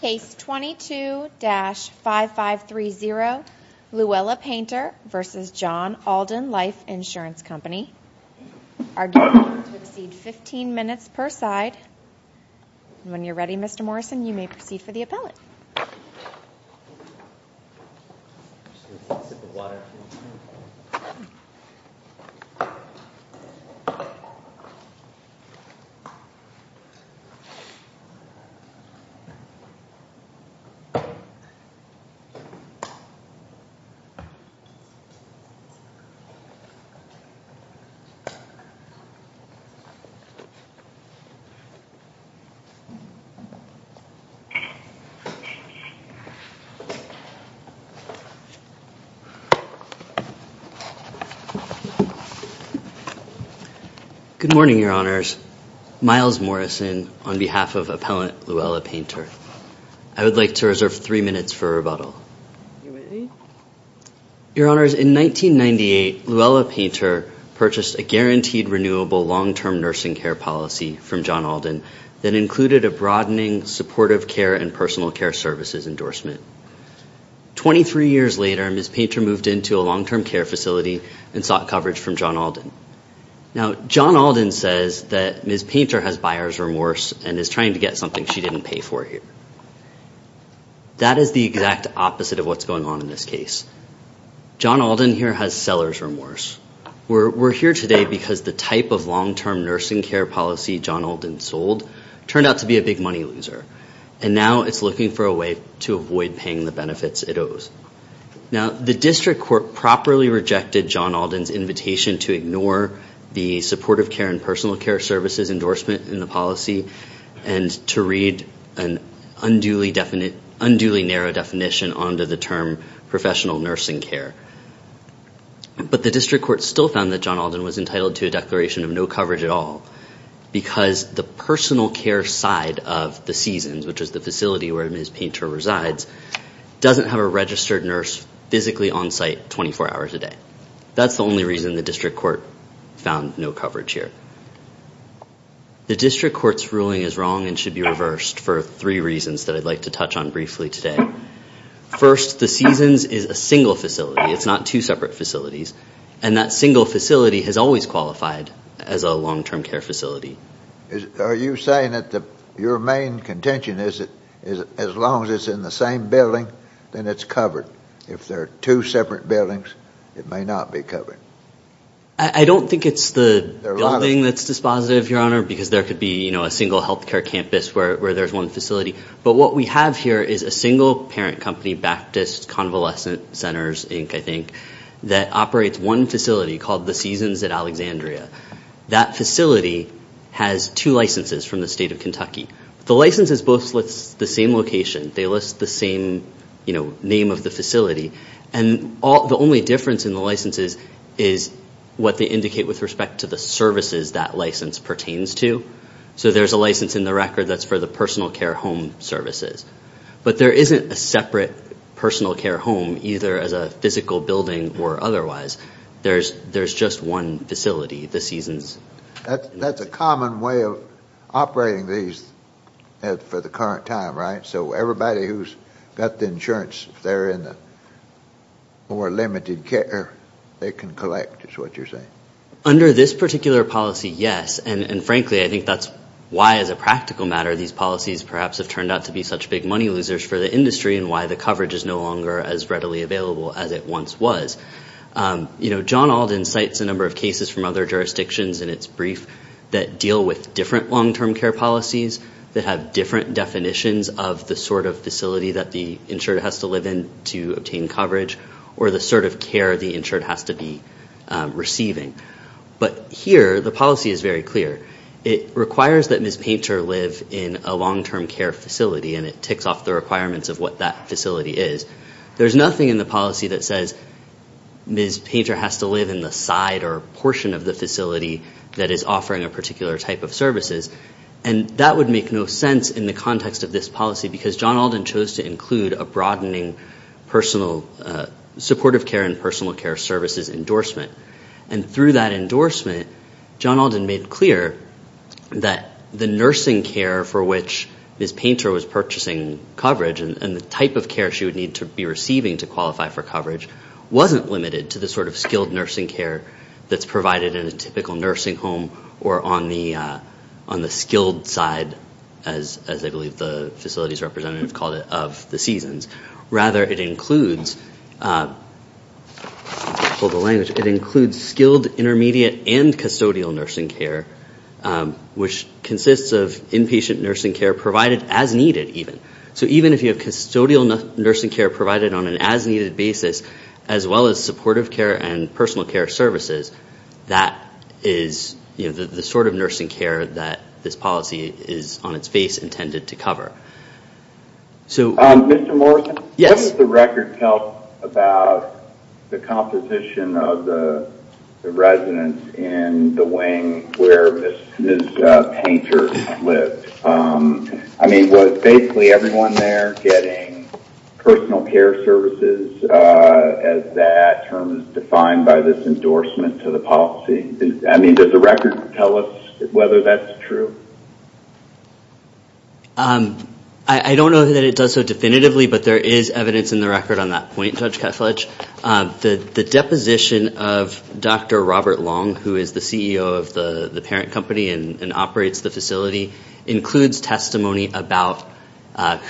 Case 22-5530 Luella Painter v. John Alden Life Insurance Company are due to exceed 15 minutes per side. When you're ready Mr. Morrison you may proceed for the appellate. Good morning your honors. My name is Miles Morrison on behalf of Appellant Luella Painter. I would like to reserve three minutes for rebuttal. Your honors in 1998 Luella Painter purchased a guaranteed renewable long-term nursing care policy from John Alden that included a broadening supportive care and personal care services endorsement. 23 years later Ms. Painter moved into a long-term care facility and sought coverage from John Alden. Now John Alden says that Ms. Painter has buyer's remorse and is trying to get something she didn't pay for here. That is the exact opposite of what's going on in this case. John Alden here has seller's remorse. We're here today because the type of long-term nursing care policy John Alden sold turned out to be a big money loser. And now it's looking for a way to avoid paying the benefits it owes. Now the district court properly rejected John Alden's invitation to ignore the supportive care and personal care services endorsement in the policy and to read an unduly narrow definition onto the term professional nursing care. But the district court still found that John Alden was entitled to a declaration of no coverage at all because the personal care side of the seasons, which is the facility where Ms. Painter resides, doesn't have a registered nurse physically on site 24 hours a day. That's the only reason the district court found no coverage here. The district court's ruling is wrong and should be reversed for three reasons that I'd like to touch on briefly today. First, the seasons is a single facility. It's not two separate facilities. And that single facility has always qualified as a long-term care facility. Are you saying that your main contention is that as long as it's in the same building, then it's covered? If there are two separate buildings, it may not be covered? I don't think it's the building that's dispositive, Your Honor, because there could be a single health care campus where there's one facility. But what we have here is a single parent company, Baptist Convalescent Centers, Inc., I think, that operates one facility called the Seasons at Alexandria. That facility has two licenses from the state of Kentucky. The licenses both list the same location. They list the same, you know, name of the facility. And the only difference in the licenses is what they indicate with respect to the services that license pertains to. So there's a license in the record that's for the personal care home services. But there isn't a separate personal care home, either as a physical building or otherwise. There's just one facility, the Seasons. That's a common way of operating these for the current time, right? So everybody who's got the insurance, if they're in the more limited care, they can collect is what you're saying? Under this particular policy, yes. And frankly, I think that's why, as a practical matter, these policies perhaps have turned out to be such big money losers for the industry and why the coverage is no longer as readily available as it once was. You know, John Alden cites a number of cases from other jurisdictions in its brief that deal with different long-term care policies that have different definitions of the sort of facility that the insured has to live in to obtain coverage or the sort of care the insured has to be receiving. But here, the policy is very clear. It requires that Ms. Painter live in a long-term care facility, and it ticks off the requirements of what that facility is. There's nothing in the policy that says Ms. Painter has to live in the side or portion of the facility that is offering a particular type of services. And that would make no sense in the context of this policy, because John Alden chose to include a broadening supportive care and personal care services endorsement. And through that endorsement, John Alden made clear that the nursing care for which Ms. Painter was purchasing coverage and the type of care she would need to be receiving to qualify for coverage wasn't limited to the sort of skilled nursing care that's provided in a typical nursing home or on the skilled side, as I believe the facilities representative called it, of the seasons. Rather, it includes skilled intermediate and custodial nursing care, which consists of inpatient nursing care provided as needed, even. So even if you have custodial nursing care provided on an as-needed basis, as well as supportive care and personal care services, that is the sort of nursing care that this policy is, on its face, intended to cover. Mr. Morrison, what does the record tell about the composition of the residence in the wing where Ms. Painter lived? I mean, was basically everyone there getting personal care services as that term is defined by this endorsement to the policy? I mean, does the record tell us whether that's true? I don't know that it does so definitively, but there is evidence in the record on that point, Judge Ketledge. The deposition of Dr. Robert Long, who is the CEO of the parent company and operates the facility, includes testimony about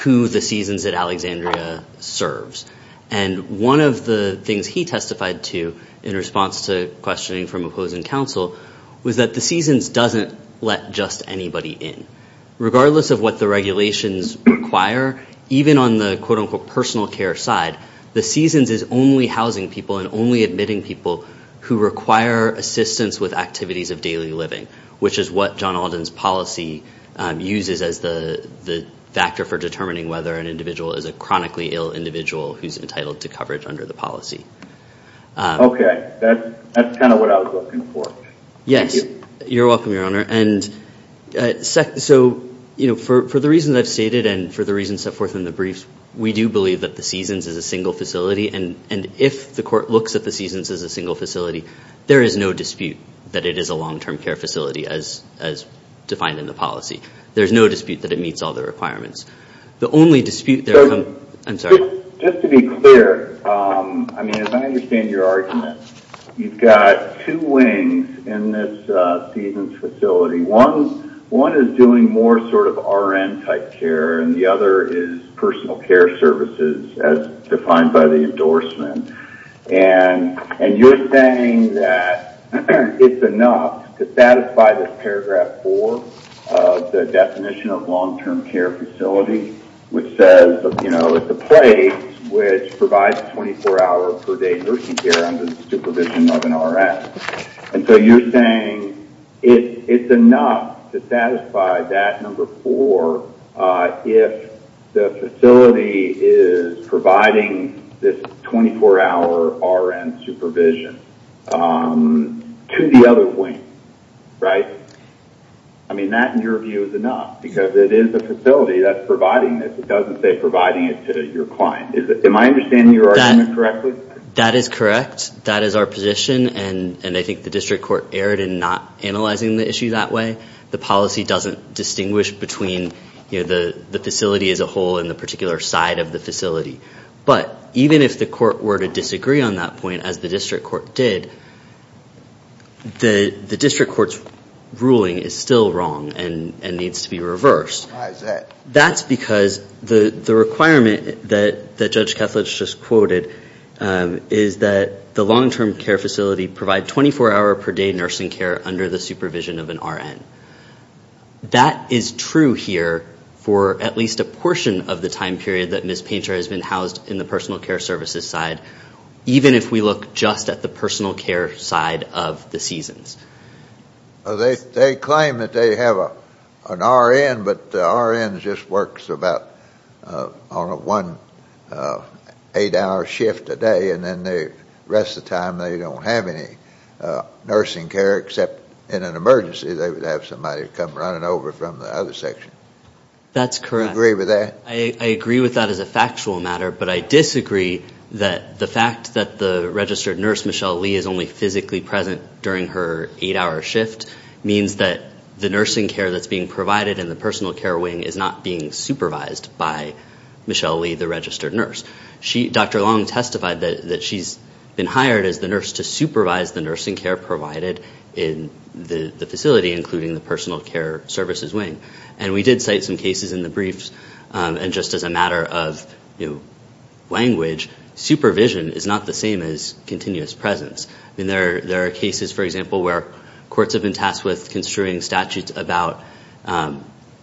who the seasons at Alexandria serves. And one of the things he testified to in response to questioning from opposing counsel was that the seasons doesn't let just anybody in. Regardless of what the regulations require, even on the quote-unquote personal care side, the seasons is only housing people and only admitting people who require assistance with activities of daily living, which is what John Alden's policy uses as the factor for determining whether an individual is a chronically ill individual who's entitled to coverage under the policy. Okay. That's kind of what I was looking for. Yes. You're welcome, Your Honor. And so, you know, for the reasons I've stated and for the reasons set forth in the briefs, we do believe that the seasons is a single facility. And if the court looks at the seasons as a single facility, there is no dispute that it is a long-term care facility as defined in the policy. There's no dispute that it meets all the requirements. I'm sorry. Just to be clear, I mean, as I understand your argument, you've got two wings in this seasons facility. One is doing more sort of RN-type care, and the other is personal care services as defined by the endorsement. And you're saying that it's enough to satisfy this paragraph four of the definition of long-term care facility, which says, you know, it's a place which provides 24-hour per day nursing care under the supervision of an RS. And so you're saying it's enough to satisfy that number four if the facility is providing this 24-hour RN supervision to the other wing, right? I mean, that, in your view, is enough because it is a facility that's providing this. It doesn't say providing it to your client. Am I understanding your argument correctly? That is correct. That is our position, and I think the district court erred in not analyzing the issue that way. The policy doesn't distinguish between, you know, the facility as a whole and the particular side of the facility. But even if the court were to disagree on that point, as the district court did, the district court's ruling is still wrong and needs to be reversed. Why is that? That's because the requirement that Judge Kethledge just quoted is that the long-term care facility provide 24-hour per day nursing care under the supervision of an RN. That is true here for at least a portion of the time period that Ms. Painter has been housed in the personal care services side, even if we look just at the personal care side of the seasons. They claim that they have an RN, but the RN just works about on a one-eight-hour shift a day, and then the rest of the time they don't have any nursing care except in an emergency. They would have somebody come running over from the other section. That's correct. Do you agree with that? I agree with that as a factual matter, but I disagree that the fact that the registered nurse, Michelle Lee, is only physically present during her eight-hour shift, means that the nursing care that's being provided in the personal care wing is not being supervised by Michelle Lee, the registered nurse. Dr. Long testified that she's been hired as the nurse to supervise the nursing care provided in the facility, including the personal care services wing. We did cite some cases in the briefs, and just as a matter of language, supervision is not the same as continuous presence. There are cases, for example, where courts have been tasked with construing statutes about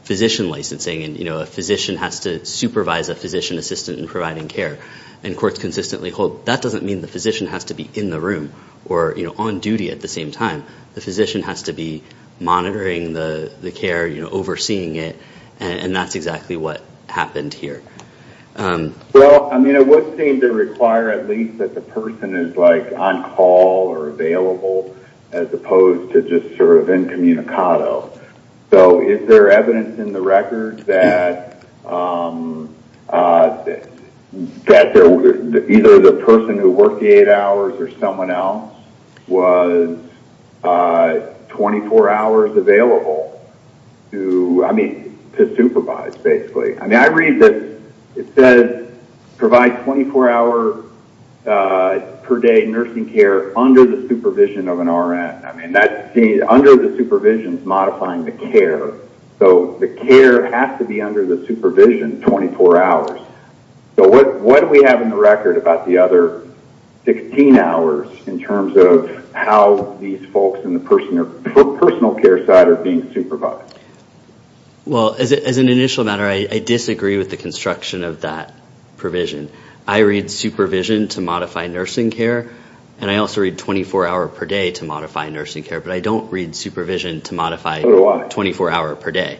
physician licensing, and a physician has to supervise a physician assistant in providing care. Courts consistently hold that doesn't mean the physician has to be in the room or on duty at the same time. The physician has to be monitoring the care, overseeing it, and that's exactly what happened here. Well, it would seem to require at least that the person is on call or available, as opposed to just sort of incommunicado. So is there evidence in the record that either the person who worked the eight hours or someone else was 24 hours available to supervise, basically? I mean, I read that it says provide 24-hour per day nursing care under the supervision of an RN. I mean, under the supervision is modifying the care, so the care has to be under the supervision 24 hours. So what do we have in the record about the other 16 hours in terms of how these folks in the personal care side are being supervised? Well, as an initial matter, I disagree with the construction of that provision. I read supervision to modify nursing care, and I also read 24-hour per day to modify nursing care, but I don't read supervision to modify 24-hour per day.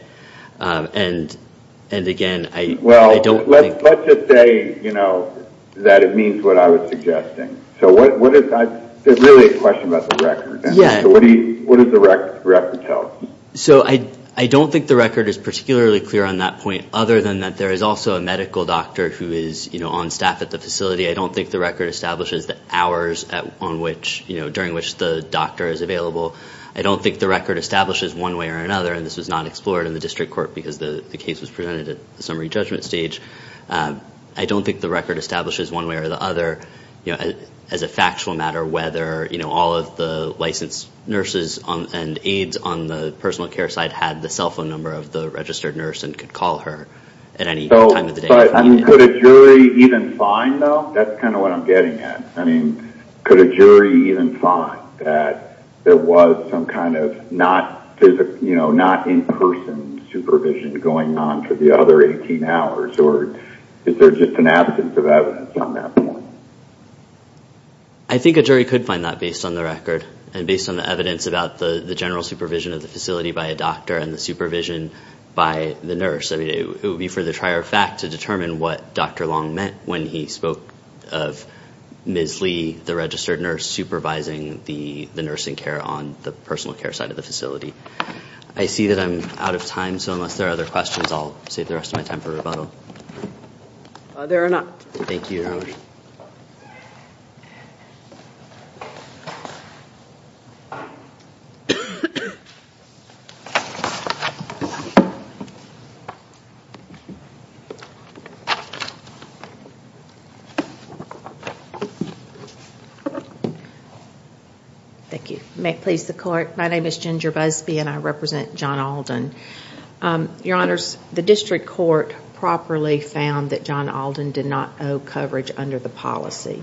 And again, I don't think... Well, let's just say, you know, that it means what I was suggesting. So there's really a question about the record. Yeah. So what does the record tell us? So I don't think the record is particularly clear on that point, other than that there is also a medical doctor who is on staff at the facility. I don't think the record establishes the hours during which the doctor is available. I don't think the record establishes one way or another, and this was not explored in the district court because the case was presented at the summary judgment stage. I don't think the record establishes one way or the other, you know, as a factual matter, whether, you know, all of the licensed nurses and aides on the personal care side had the cell phone number of the registered nurse and could call her at any time of the day. Could a jury even find, though? That's kind of what I'm getting at. I mean, could a jury even find that there was some kind of not in-person supervision going on for the other 18 hours? Or is there just an absence of evidence on that point? I think a jury could find that based on the record and based on the evidence about the general supervision of the facility by a doctor and the supervision by the nurse. I mean, it would be for the trier of fact to determine what Dr. Long meant when he spoke of Ms. Lee, the registered nurse, supervising the nursing care on the personal care side of the facility. I see that I'm out of time, so unless there are other questions, I'll save the rest of my time for rebuttal. There are not. Thank you, Your Honor. Thank you. May it please the Court, my name is Ginger Busby and I represent John Alden. Your Honors, the district court properly found that John Alden did not owe coverage under the policy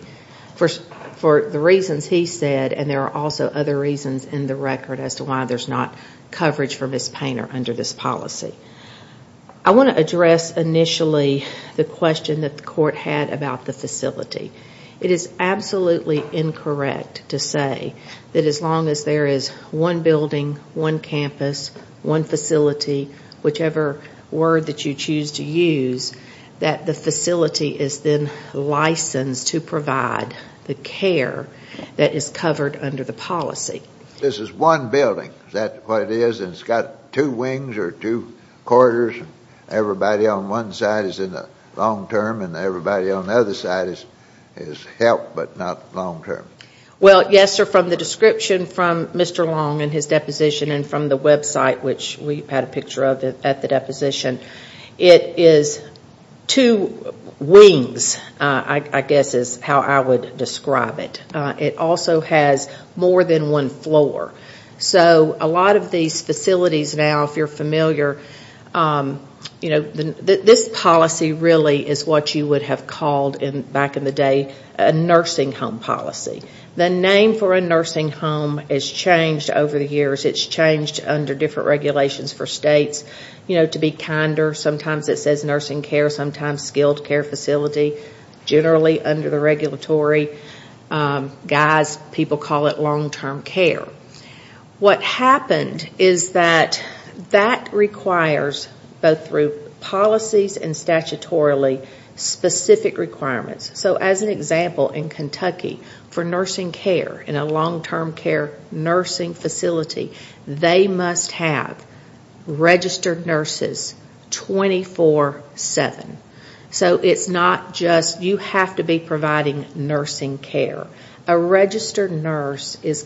for the reasons he said and there are also other reasons in the record as to why there's not coverage for Ms. Painter under this policy. I want to address initially the question that the court had about the facility. It is absolutely incorrect to say that as long as there is one building, one campus, one facility, whichever word that you choose to use, that the facility is then licensed to provide the care that is covered under the policy. This is one building, is that what it is? And it's got two wings or two corridors and everybody on one side is in the long term and everybody on the other side is help but not long term. Well, yes, sir, from the description from Mr. Long and his deposition and from the website, which we've had a picture of at the deposition, it is two wings, I guess is how I would describe it. It also has more than one floor. So a lot of these facilities now, if you're familiar, this policy really is what you would have called back in the day a nursing home policy. The name for a nursing home has changed over the years. It's changed under different regulations for states. To be kinder, sometimes it says nursing care, sometimes skilled care facility, generally under the regulatory, guys, people call it long term care. What happened is that that requires both through policies and statutorily specific requirements. So as an example, in Kentucky, for nursing care in a long term care nursing facility, they must have registered nurses 24-7. So it's not just you have to be providing nursing care. A registered nurse is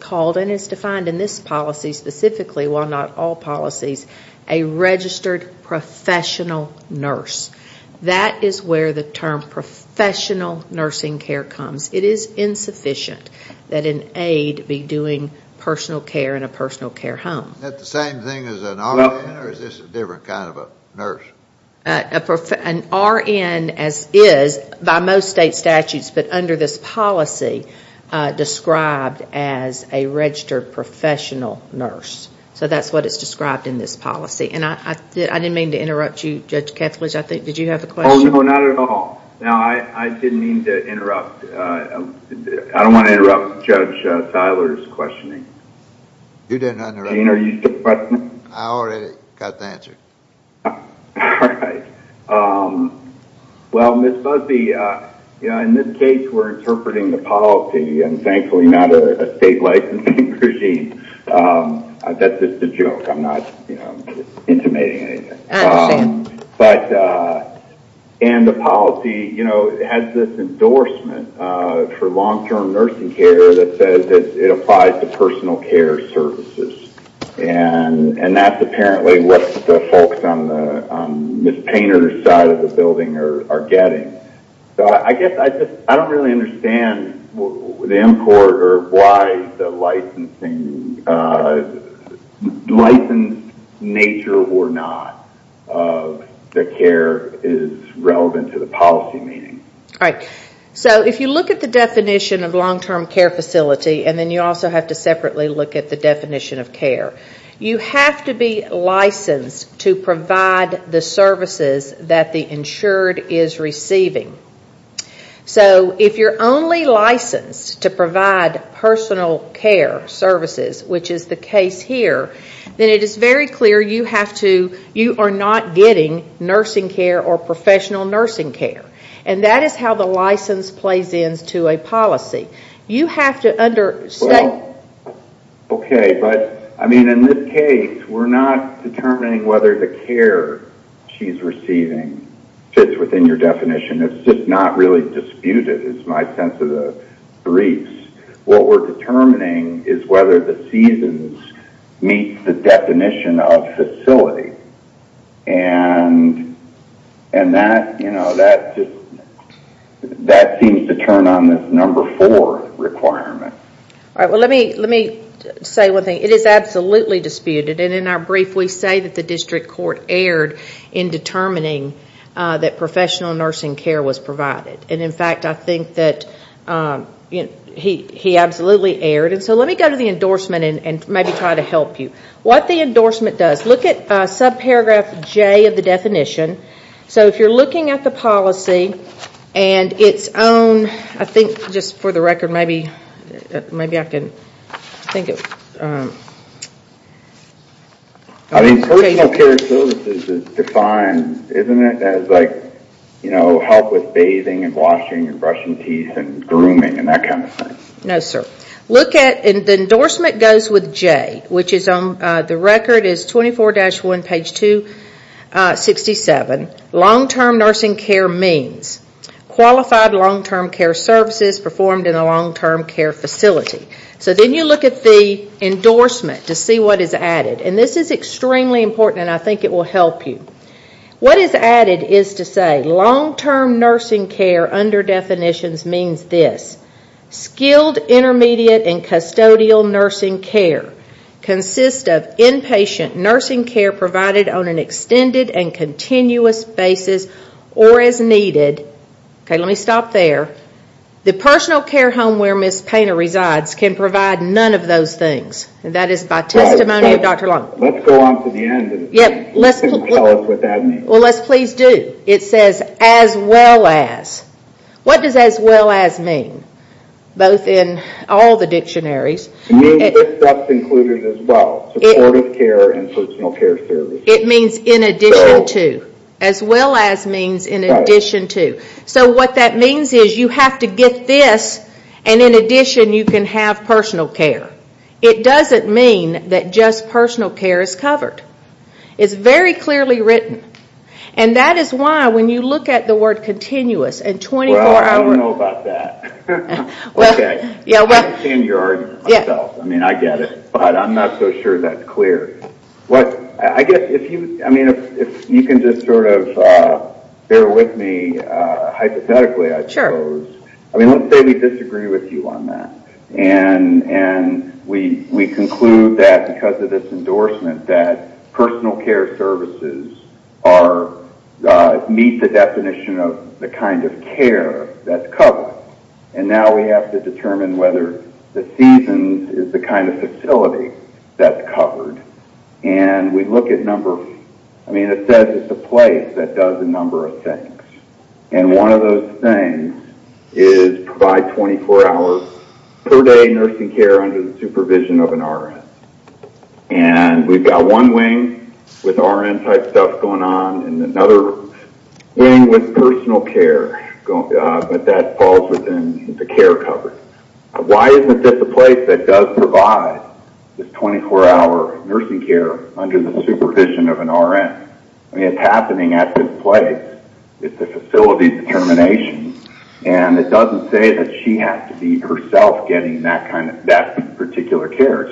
called and is defined in this policy specifically, while not all policies, a registered professional nurse. That is where the term professional nursing care comes. It is insufficient that an aide be doing personal care in a personal care home. Is that the same thing as an RN or is this a different kind of a nurse? An RN, as is, by most state statutes, but under this policy, described as a registered professional nurse. So that's what is described in this policy. I didn't mean to interrupt you, Judge Kethledge. Did you have a question? No, not at all. I didn't mean to interrupt. I don't want to interrupt Judge Tyler's questioning. You didn't interrupt. Gene, are you still questioning? I already got the answer. All right. Well, Ms. Busby, in this case, we're interpreting the policy, and thankfully not a state licensing regime. That's just a joke. I'm not intimating anything. I understand. And the policy has this endorsement for long-term nursing care that says it applies to personal care services. And that's apparently what the folks on Ms. Painter's side of the building are getting. So I guess I just don't really understand the import or why the licensing, licensed nature or not, that care is relevant to the policy meaning. All right. So if you look at the definition of long-term care facility, and then you also have to separately look at the definition of care, you have to be licensed to provide the services that the insured is receiving. So if you're only licensed to provide personal care services, which is the case here, then it is very clear you are not getting nursing care or professional nursing care. And that is how the license plays into a policy. You have to understand. Okay. But, I mean, in this case, we're not determining whether the care she's receiving fits within your definition. It's just not really disputed is my sense of the briefs. What we're determining is whether the seasons meet the definition of facility. And that, you know, that seems to turn on this number four requirement. All right. Well, let me say one thing. It is absolutely disputed. And in our brief, we say that the district court erred in determining that professional nursing care was provided. And, in fact, I think that he absolutely erred. And so let me go to the endorsement and maybe try to help you. What the endorsement does, look at subparagraph J of the definition. So if you're looking at the policy and its own, I think, just for the record, maybe I can think of. Personal care services is defined, isn't it, as like, you know, help with bathing and washing and brushing teeth and grooming and that kind of thing. No, sir. Look at, and the endorsement goes with J, which is on, the record is 24-1, page 267. Long-term nursing care means qualified long-term care services performed in a long-term care facility. So then you look at the endorsement to see what is added. And this is extremely important, and I think it will help you. What is added is to say long-term nursing care under definitions means this. Skilled intermediate and custodial nursing care consists of inpatient nursing care provided on an extended and continuous basis or as needed. Okay, let me stop there. The personal care home where Ms. Painter resides can provide none of those things. That is by testimony of Dr. Long. Let's go on to the end and tell us what that means. Well, let's please do. It says as well as. What does as well as mean? Both in all the dictionaries. It means that's included as well, supportive care and personal care services. It means in addition to. As well as means in addition to. So what that means is you have to get this, and in addition you can have personal care. It doesn't mean that just personal care is covered. It's very clearly written. That is why when you look at the word continuous and 24-hour. Well, I don't know about that. I understand your argument myself. I mean, I get it, but I'm not so sure that's clear. I guess if you can just sort of bear with me hypothetically, I suppose. Let's say we disagree with you on that, and we conclude that because of this endorsement that personal care services meet the definition of the kind of care that's covered, and now we have to determine whether the seasons is the kind of facility that's covered. And we look at numbers. I mean, it says it's a place that does a number of things, and one of those things is provide 24 hours per day nursing care under the supervision of an RN. And we've got one wing with RN type stuff going on and another wing with personal care, but that falls within the care covered. Why isn't this a place that does provide this 24-hour nursing care under the supervision of an RN? I mean, it's happening at this place. It's a facility determination, and it doesn't say that she has to be herself getting that particular care.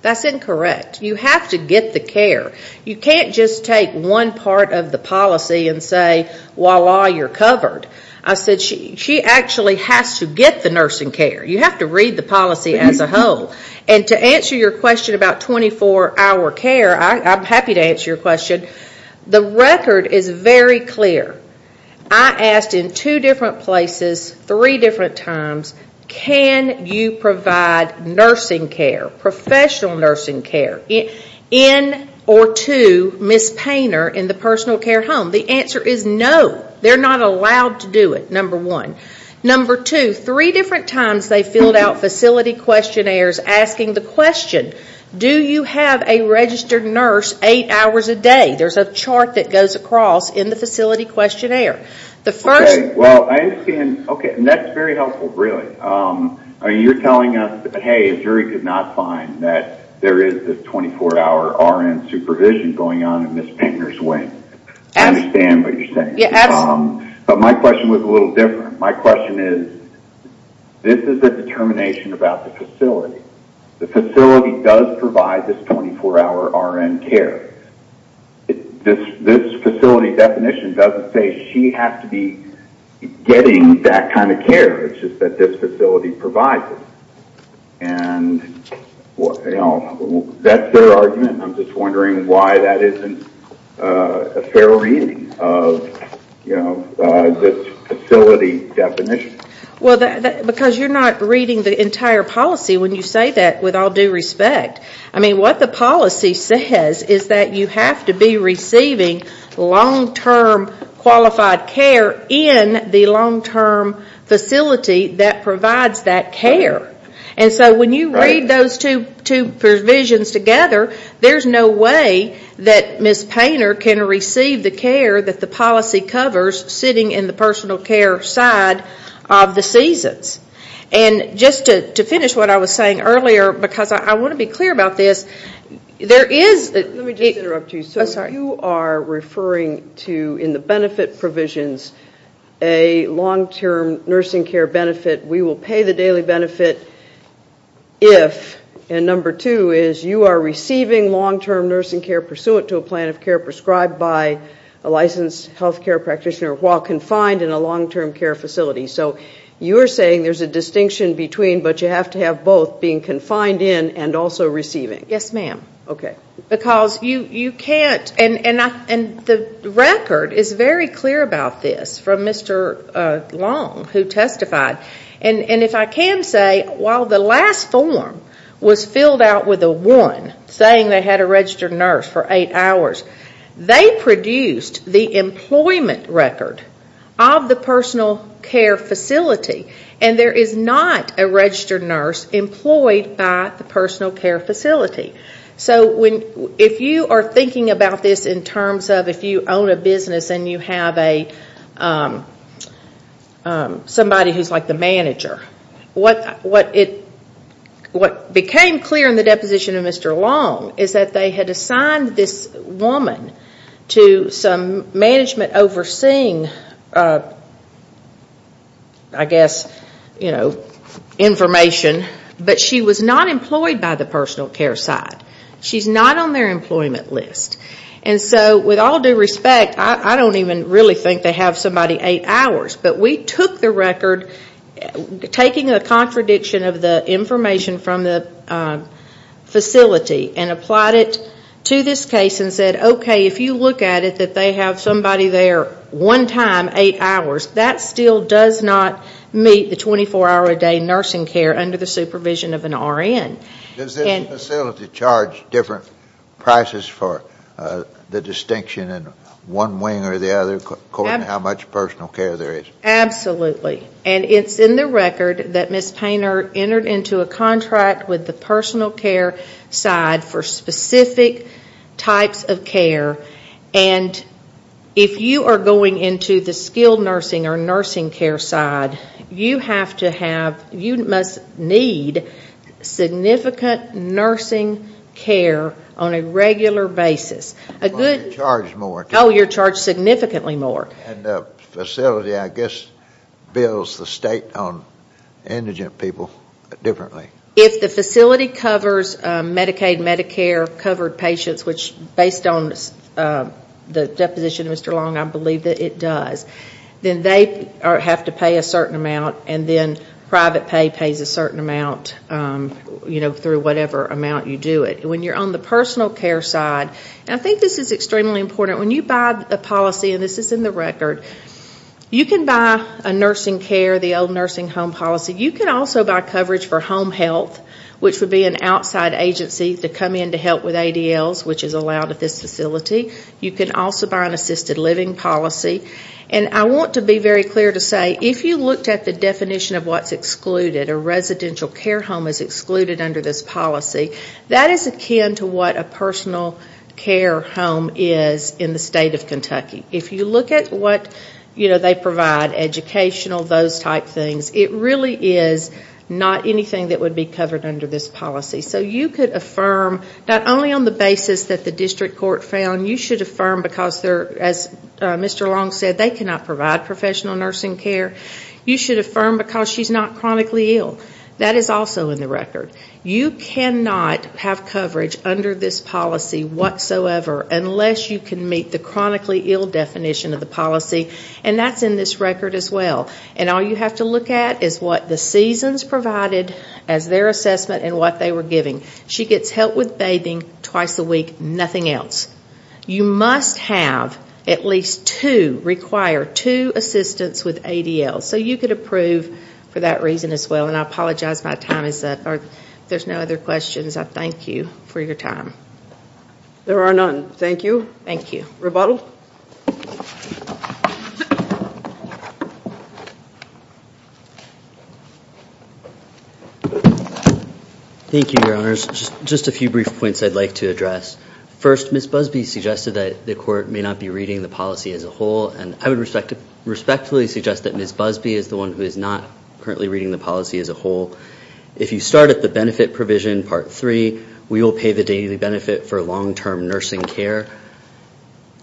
That's incorrect. You have to get the care. You can't just take one part of the policy and say, voila, you're covered. I said she actually has to get the nursing care. You have to read the policy as a whole. And to answer your question about 24-hour care, I'm happy to answer your question. The record is very clear. I asked in two different places three different times, can you provide nursing care, professional nursing care, in or to Ms. Painter in the personal care home? The answer is no. They're not allowed to do it, number one. Number two, three different times they filled out facility questionnaires asking the question, do you have a registered nurse eight hours a day? There's a chart that goes across in the facility questionnaire. Okay, well, I understand. Okay, and that's very helpful, really. You're telling us that, hey, a jury could not find that there is this 24-hour RN supervision going on in Ms. Painter's wing. I understand what you're saying. But my question was a little different. My question is, this is a determination about the facility. The facility does provide this 24-hour RN care. This facility definition doesn't say she has to be getting that kind of care. It's just that this facility provides it. And that's their argument, and I'm just wondering why that isn't a fair reading of this facility definition. Because you're not reading the entire policy when you say that, with all due respect. I mean, what the policy says is that you have to be receiving long-term qualified care in the long-term facility that provides that care. And so when you read those two provisions together, there's no way that Ms. Painter can receive the care that the policy covers sitting in the personal care side of the seasons. And just to finish what I was saying earlier, because I want to be clear about this, there is. Let me just interrupt you. I'm sorry. So you are referring to, in the benefit provisions, a long-term nursing care benefit. We will pay the daily benefit if. And number two is you are receiving long-term nursing care pursuant to a plan of care prescribed by a licensed healthcare practitioner while confined in a long-term care facility. So you're saying there's a distinction between, but you have to have both, being confined in and also receiving. Yes, ma'am. Okay. Because you can't. And the record is very clear about this from Mr. Long, who testified. And if I can say, while the last form was filled out with a one, saying they had a registered nurse for eight hours, they produced the employment record of the personal care facility. And there is not a registered nurse employed by the personal care facility. So if you are thinking about this in terms of if you own a business and you have somebody who's like the manager, what became clear in the deposition of Mr. Long is that they had assigned this woman to some management overseeing, I guess, you know, information. But she was not employed by the personal care side. She's not on their employment list. And so with all due respect, I don't even really think they have somebody eight hours. But we took the record, taking a contradiction of the information from the facility, and applied it to this case and said, okay, if you look at it, that they have somebody there one time, eight hours, that still does not meet the 24-hour-a-day nursing care under the supervision of an RN. Does this facility charge different prices for the distinction in one wing or the other according to how much personal care there is? Absolutely. And it's in the record that Ms. Painter entered into a contract with the personal care side for specific types of care. And if you are going into the skilled nursing or nursing care side, you have to have, you must need significant nursing care on a regular basis. Well, you're charged more. Oh, you're charged significantly more. And the facility, I guess, bills the state on indigent people differently. If the facility covers Medicaid, Medicare-covered patients, which based on the deposition of Mr. Long, I believe that it does, then they have to pay a certain amount, and then private pay pays a certain amount, you know, through whatever amount you do it. When you're on the personal care side, and I think this is extremely important. When you buy a policy, and this is in the record, you can buy a nursing care, the old nursing home policy. You can also buy coverage for home health, which would be an outside agency to come in to help with ADLs, which is allowed at this facility. You can also buy an assisted living policy. And I want to be very clear to say, if you looked at the definition of what's excluded, a residential care home is excluded under this policy, that is akin to what a personal care home is in the state of Kentucky. If you look at what, you know, they provide, educational, those type things, it really is not anything that would be covered under this policy. So you could affirm, not only on the basis that the district court found, you should affirm because they're, as Mr. Long said, they cannot provide professional nursing care, you should affirm because she's not chronically ill. That is also in the record. You cannot have coverage under this policy whatsoever unless you can meet the chronically ill definition of the policy, and that's in this record as well. And all you have to look at is what the seasons provided as their assessment and what they were giving. She gets help with bathing twice a week, nothing else. You must have at least two, require two assistants with ADL. So you could approve for that reason as well. And I apologize my time is up. If there's no other questions, I thank you for your time. There are none. Thank you. Thank you. Rebuttal. Thank you, Your Honors. Just a few brief points I'd like to address. First, Ms. Busby suggested that the court may not be reading the policy as a whole, and I would respectfully suggest that Ms. Busby is the one who is not currently reading the policy as a whole. If you start at the benefit provision, part three, we will pay the daily benefit for long-term nursing care.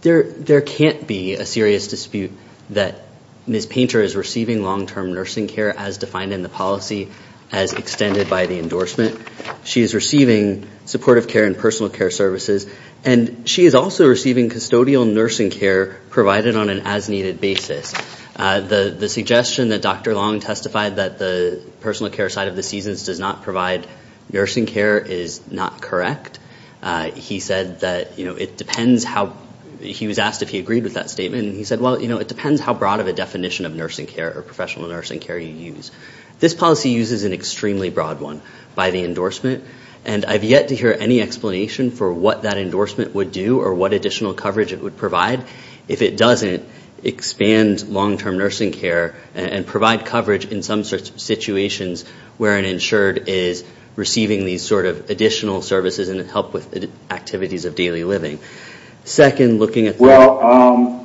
There can't be a serious dispute that Ms. Painter is receiving long-term nursing care as defined in the policy, as extended by the endorsement. She is receiving supportive care and personal care services, and she is also receiving custodial nursing care provided on an as-needed basis. The suggestion that Dr. Long testified that the personal care side of the seasons does not provide nursing care is not correct. He said that, you know, it depends how he was asked if he agreed with that statement, and he said, well, you know, it depends how broad of a definition of nursing care or professional nursing care you use. This policy uses an extremely broad one by the endorsement, and I've yet to hear any explanation for what that endorsement would do or what additional coverage it would provide. If it doesn't, expand long-term nursing care and provide coverage in some situations where an insured is receiving these sort of additional services and help with activities of daily living. Second, looking at the- Well,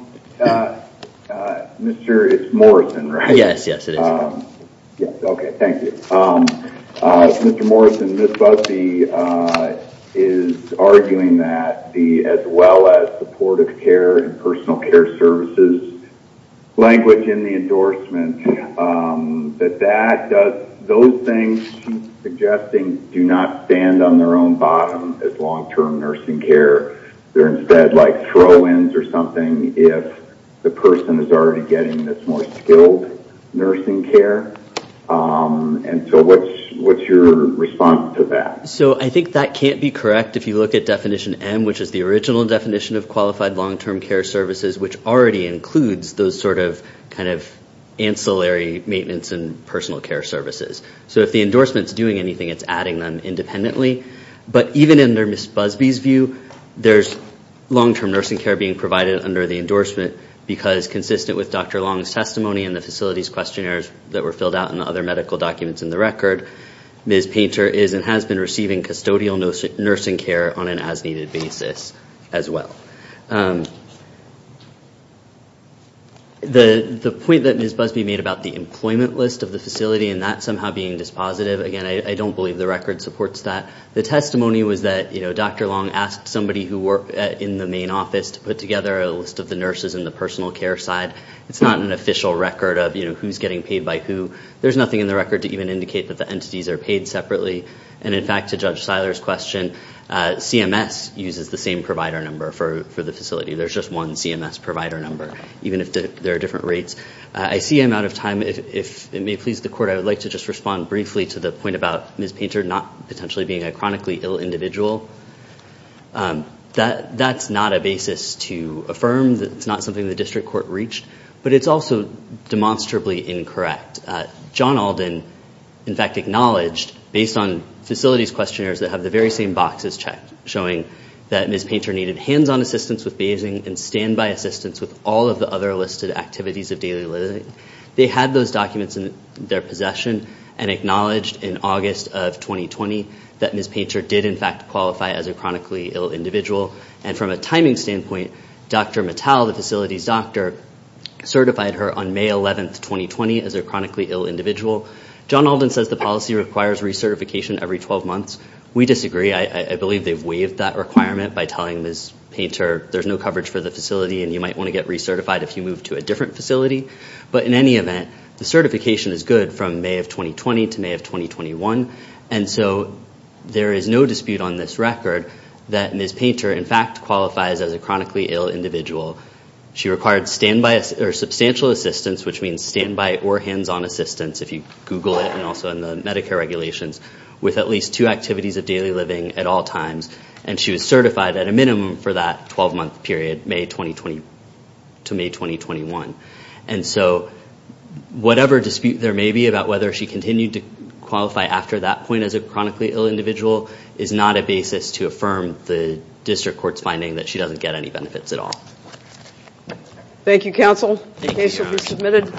Mr., it's Morrison, right? Yes, yes, it is. Okay, thank you. Mr. Morrison, Ms. Busby is arguing that as well as supportive care and personal care services language in the endorsement, that those things she's suggesting do not stand on their own bottom as long-term nursing care. They're instead like throw-ins or something if the person is already getting this more skilled nursing care. And so what's your response to that? So I think that can't be correct if you look at definition M, which is the original definition of qualified long-term care services, which already includes those sort of kind of ancillary maintenance and personal care services. So if the endorsement's doing anything, it's adding them independently. But even under Ms. Busby's view, there's long-term nursing care being provided under the endorsement because consistent with Dr. Long's testimony and the facilities questionnaires that were filled out in the other medical documents in the record, Ms. Painter is and has been receiving custodial nursing care on an as-needed basis as well. The point that Ms. Busby made about the employment list of the facility and that somehow being dispositive, again, I don't believe the record supports that. The testimony was that Dr. Long asked somebody who worked in the main office to put together a list of the nurses and the personal care side. It's not an official record of who's getting paid by who. There's nothing in the record to even indicate that the entities are paid separately. And, in fact, to Judge Seiler's question, CMS uses the same provider number for the facility. There's just one CMS provider number, even if there are different rates. I see I'm out of time. If it may please the court, I would like to just respond briefly to the point about Ms. Painter not potentially being a chronically ill individual. That's not a basis to affirm. It's not something the district court reached. But it's also demonstrably incorrect. John Alden, in fact, acknowledged, based on facilities questionnaires that have the very same boxes checked, showing that Ms. Painter needed hands-on assistance with bathing and standby assistance with all of the other listed activities of daily living. They had those documents in their possession and acknowledged in August of 2020 that Ms. Painter did, in fact, qualify as a chronically ill individual. And from a timing standpoint, Dr. Mattel, the facility's doctor, certified her on May 11, 2020 as a chronically ill individual. John Alden says the policy requires recertification every 12 months. We disagree. I believe they've waived that requirement by telling Ms. Painter there's no coverage for the facility and you might want to get recertified if you move to a different facility. But, in any event, the certification is good from May of 2020 to May of 2021. And so there is no dispute on this record that Ms. Painter, in fact, qualifies as a chronically ill individual. She required substantial assistance, which means standby or hands-on assistance, if you Google it and also in the Medicare regulations, with at least two activities of daily living at all times. And she was certified at a minimum for that 12-month period, May 2020 to May 2021. And so whatever dispute there may be about whether she continued to qualify after that point as a chronically ill individual is not a basis to affirm the district court's finding that she doesn't get any benefits at all. Thank you, counsel. The case will be submitted.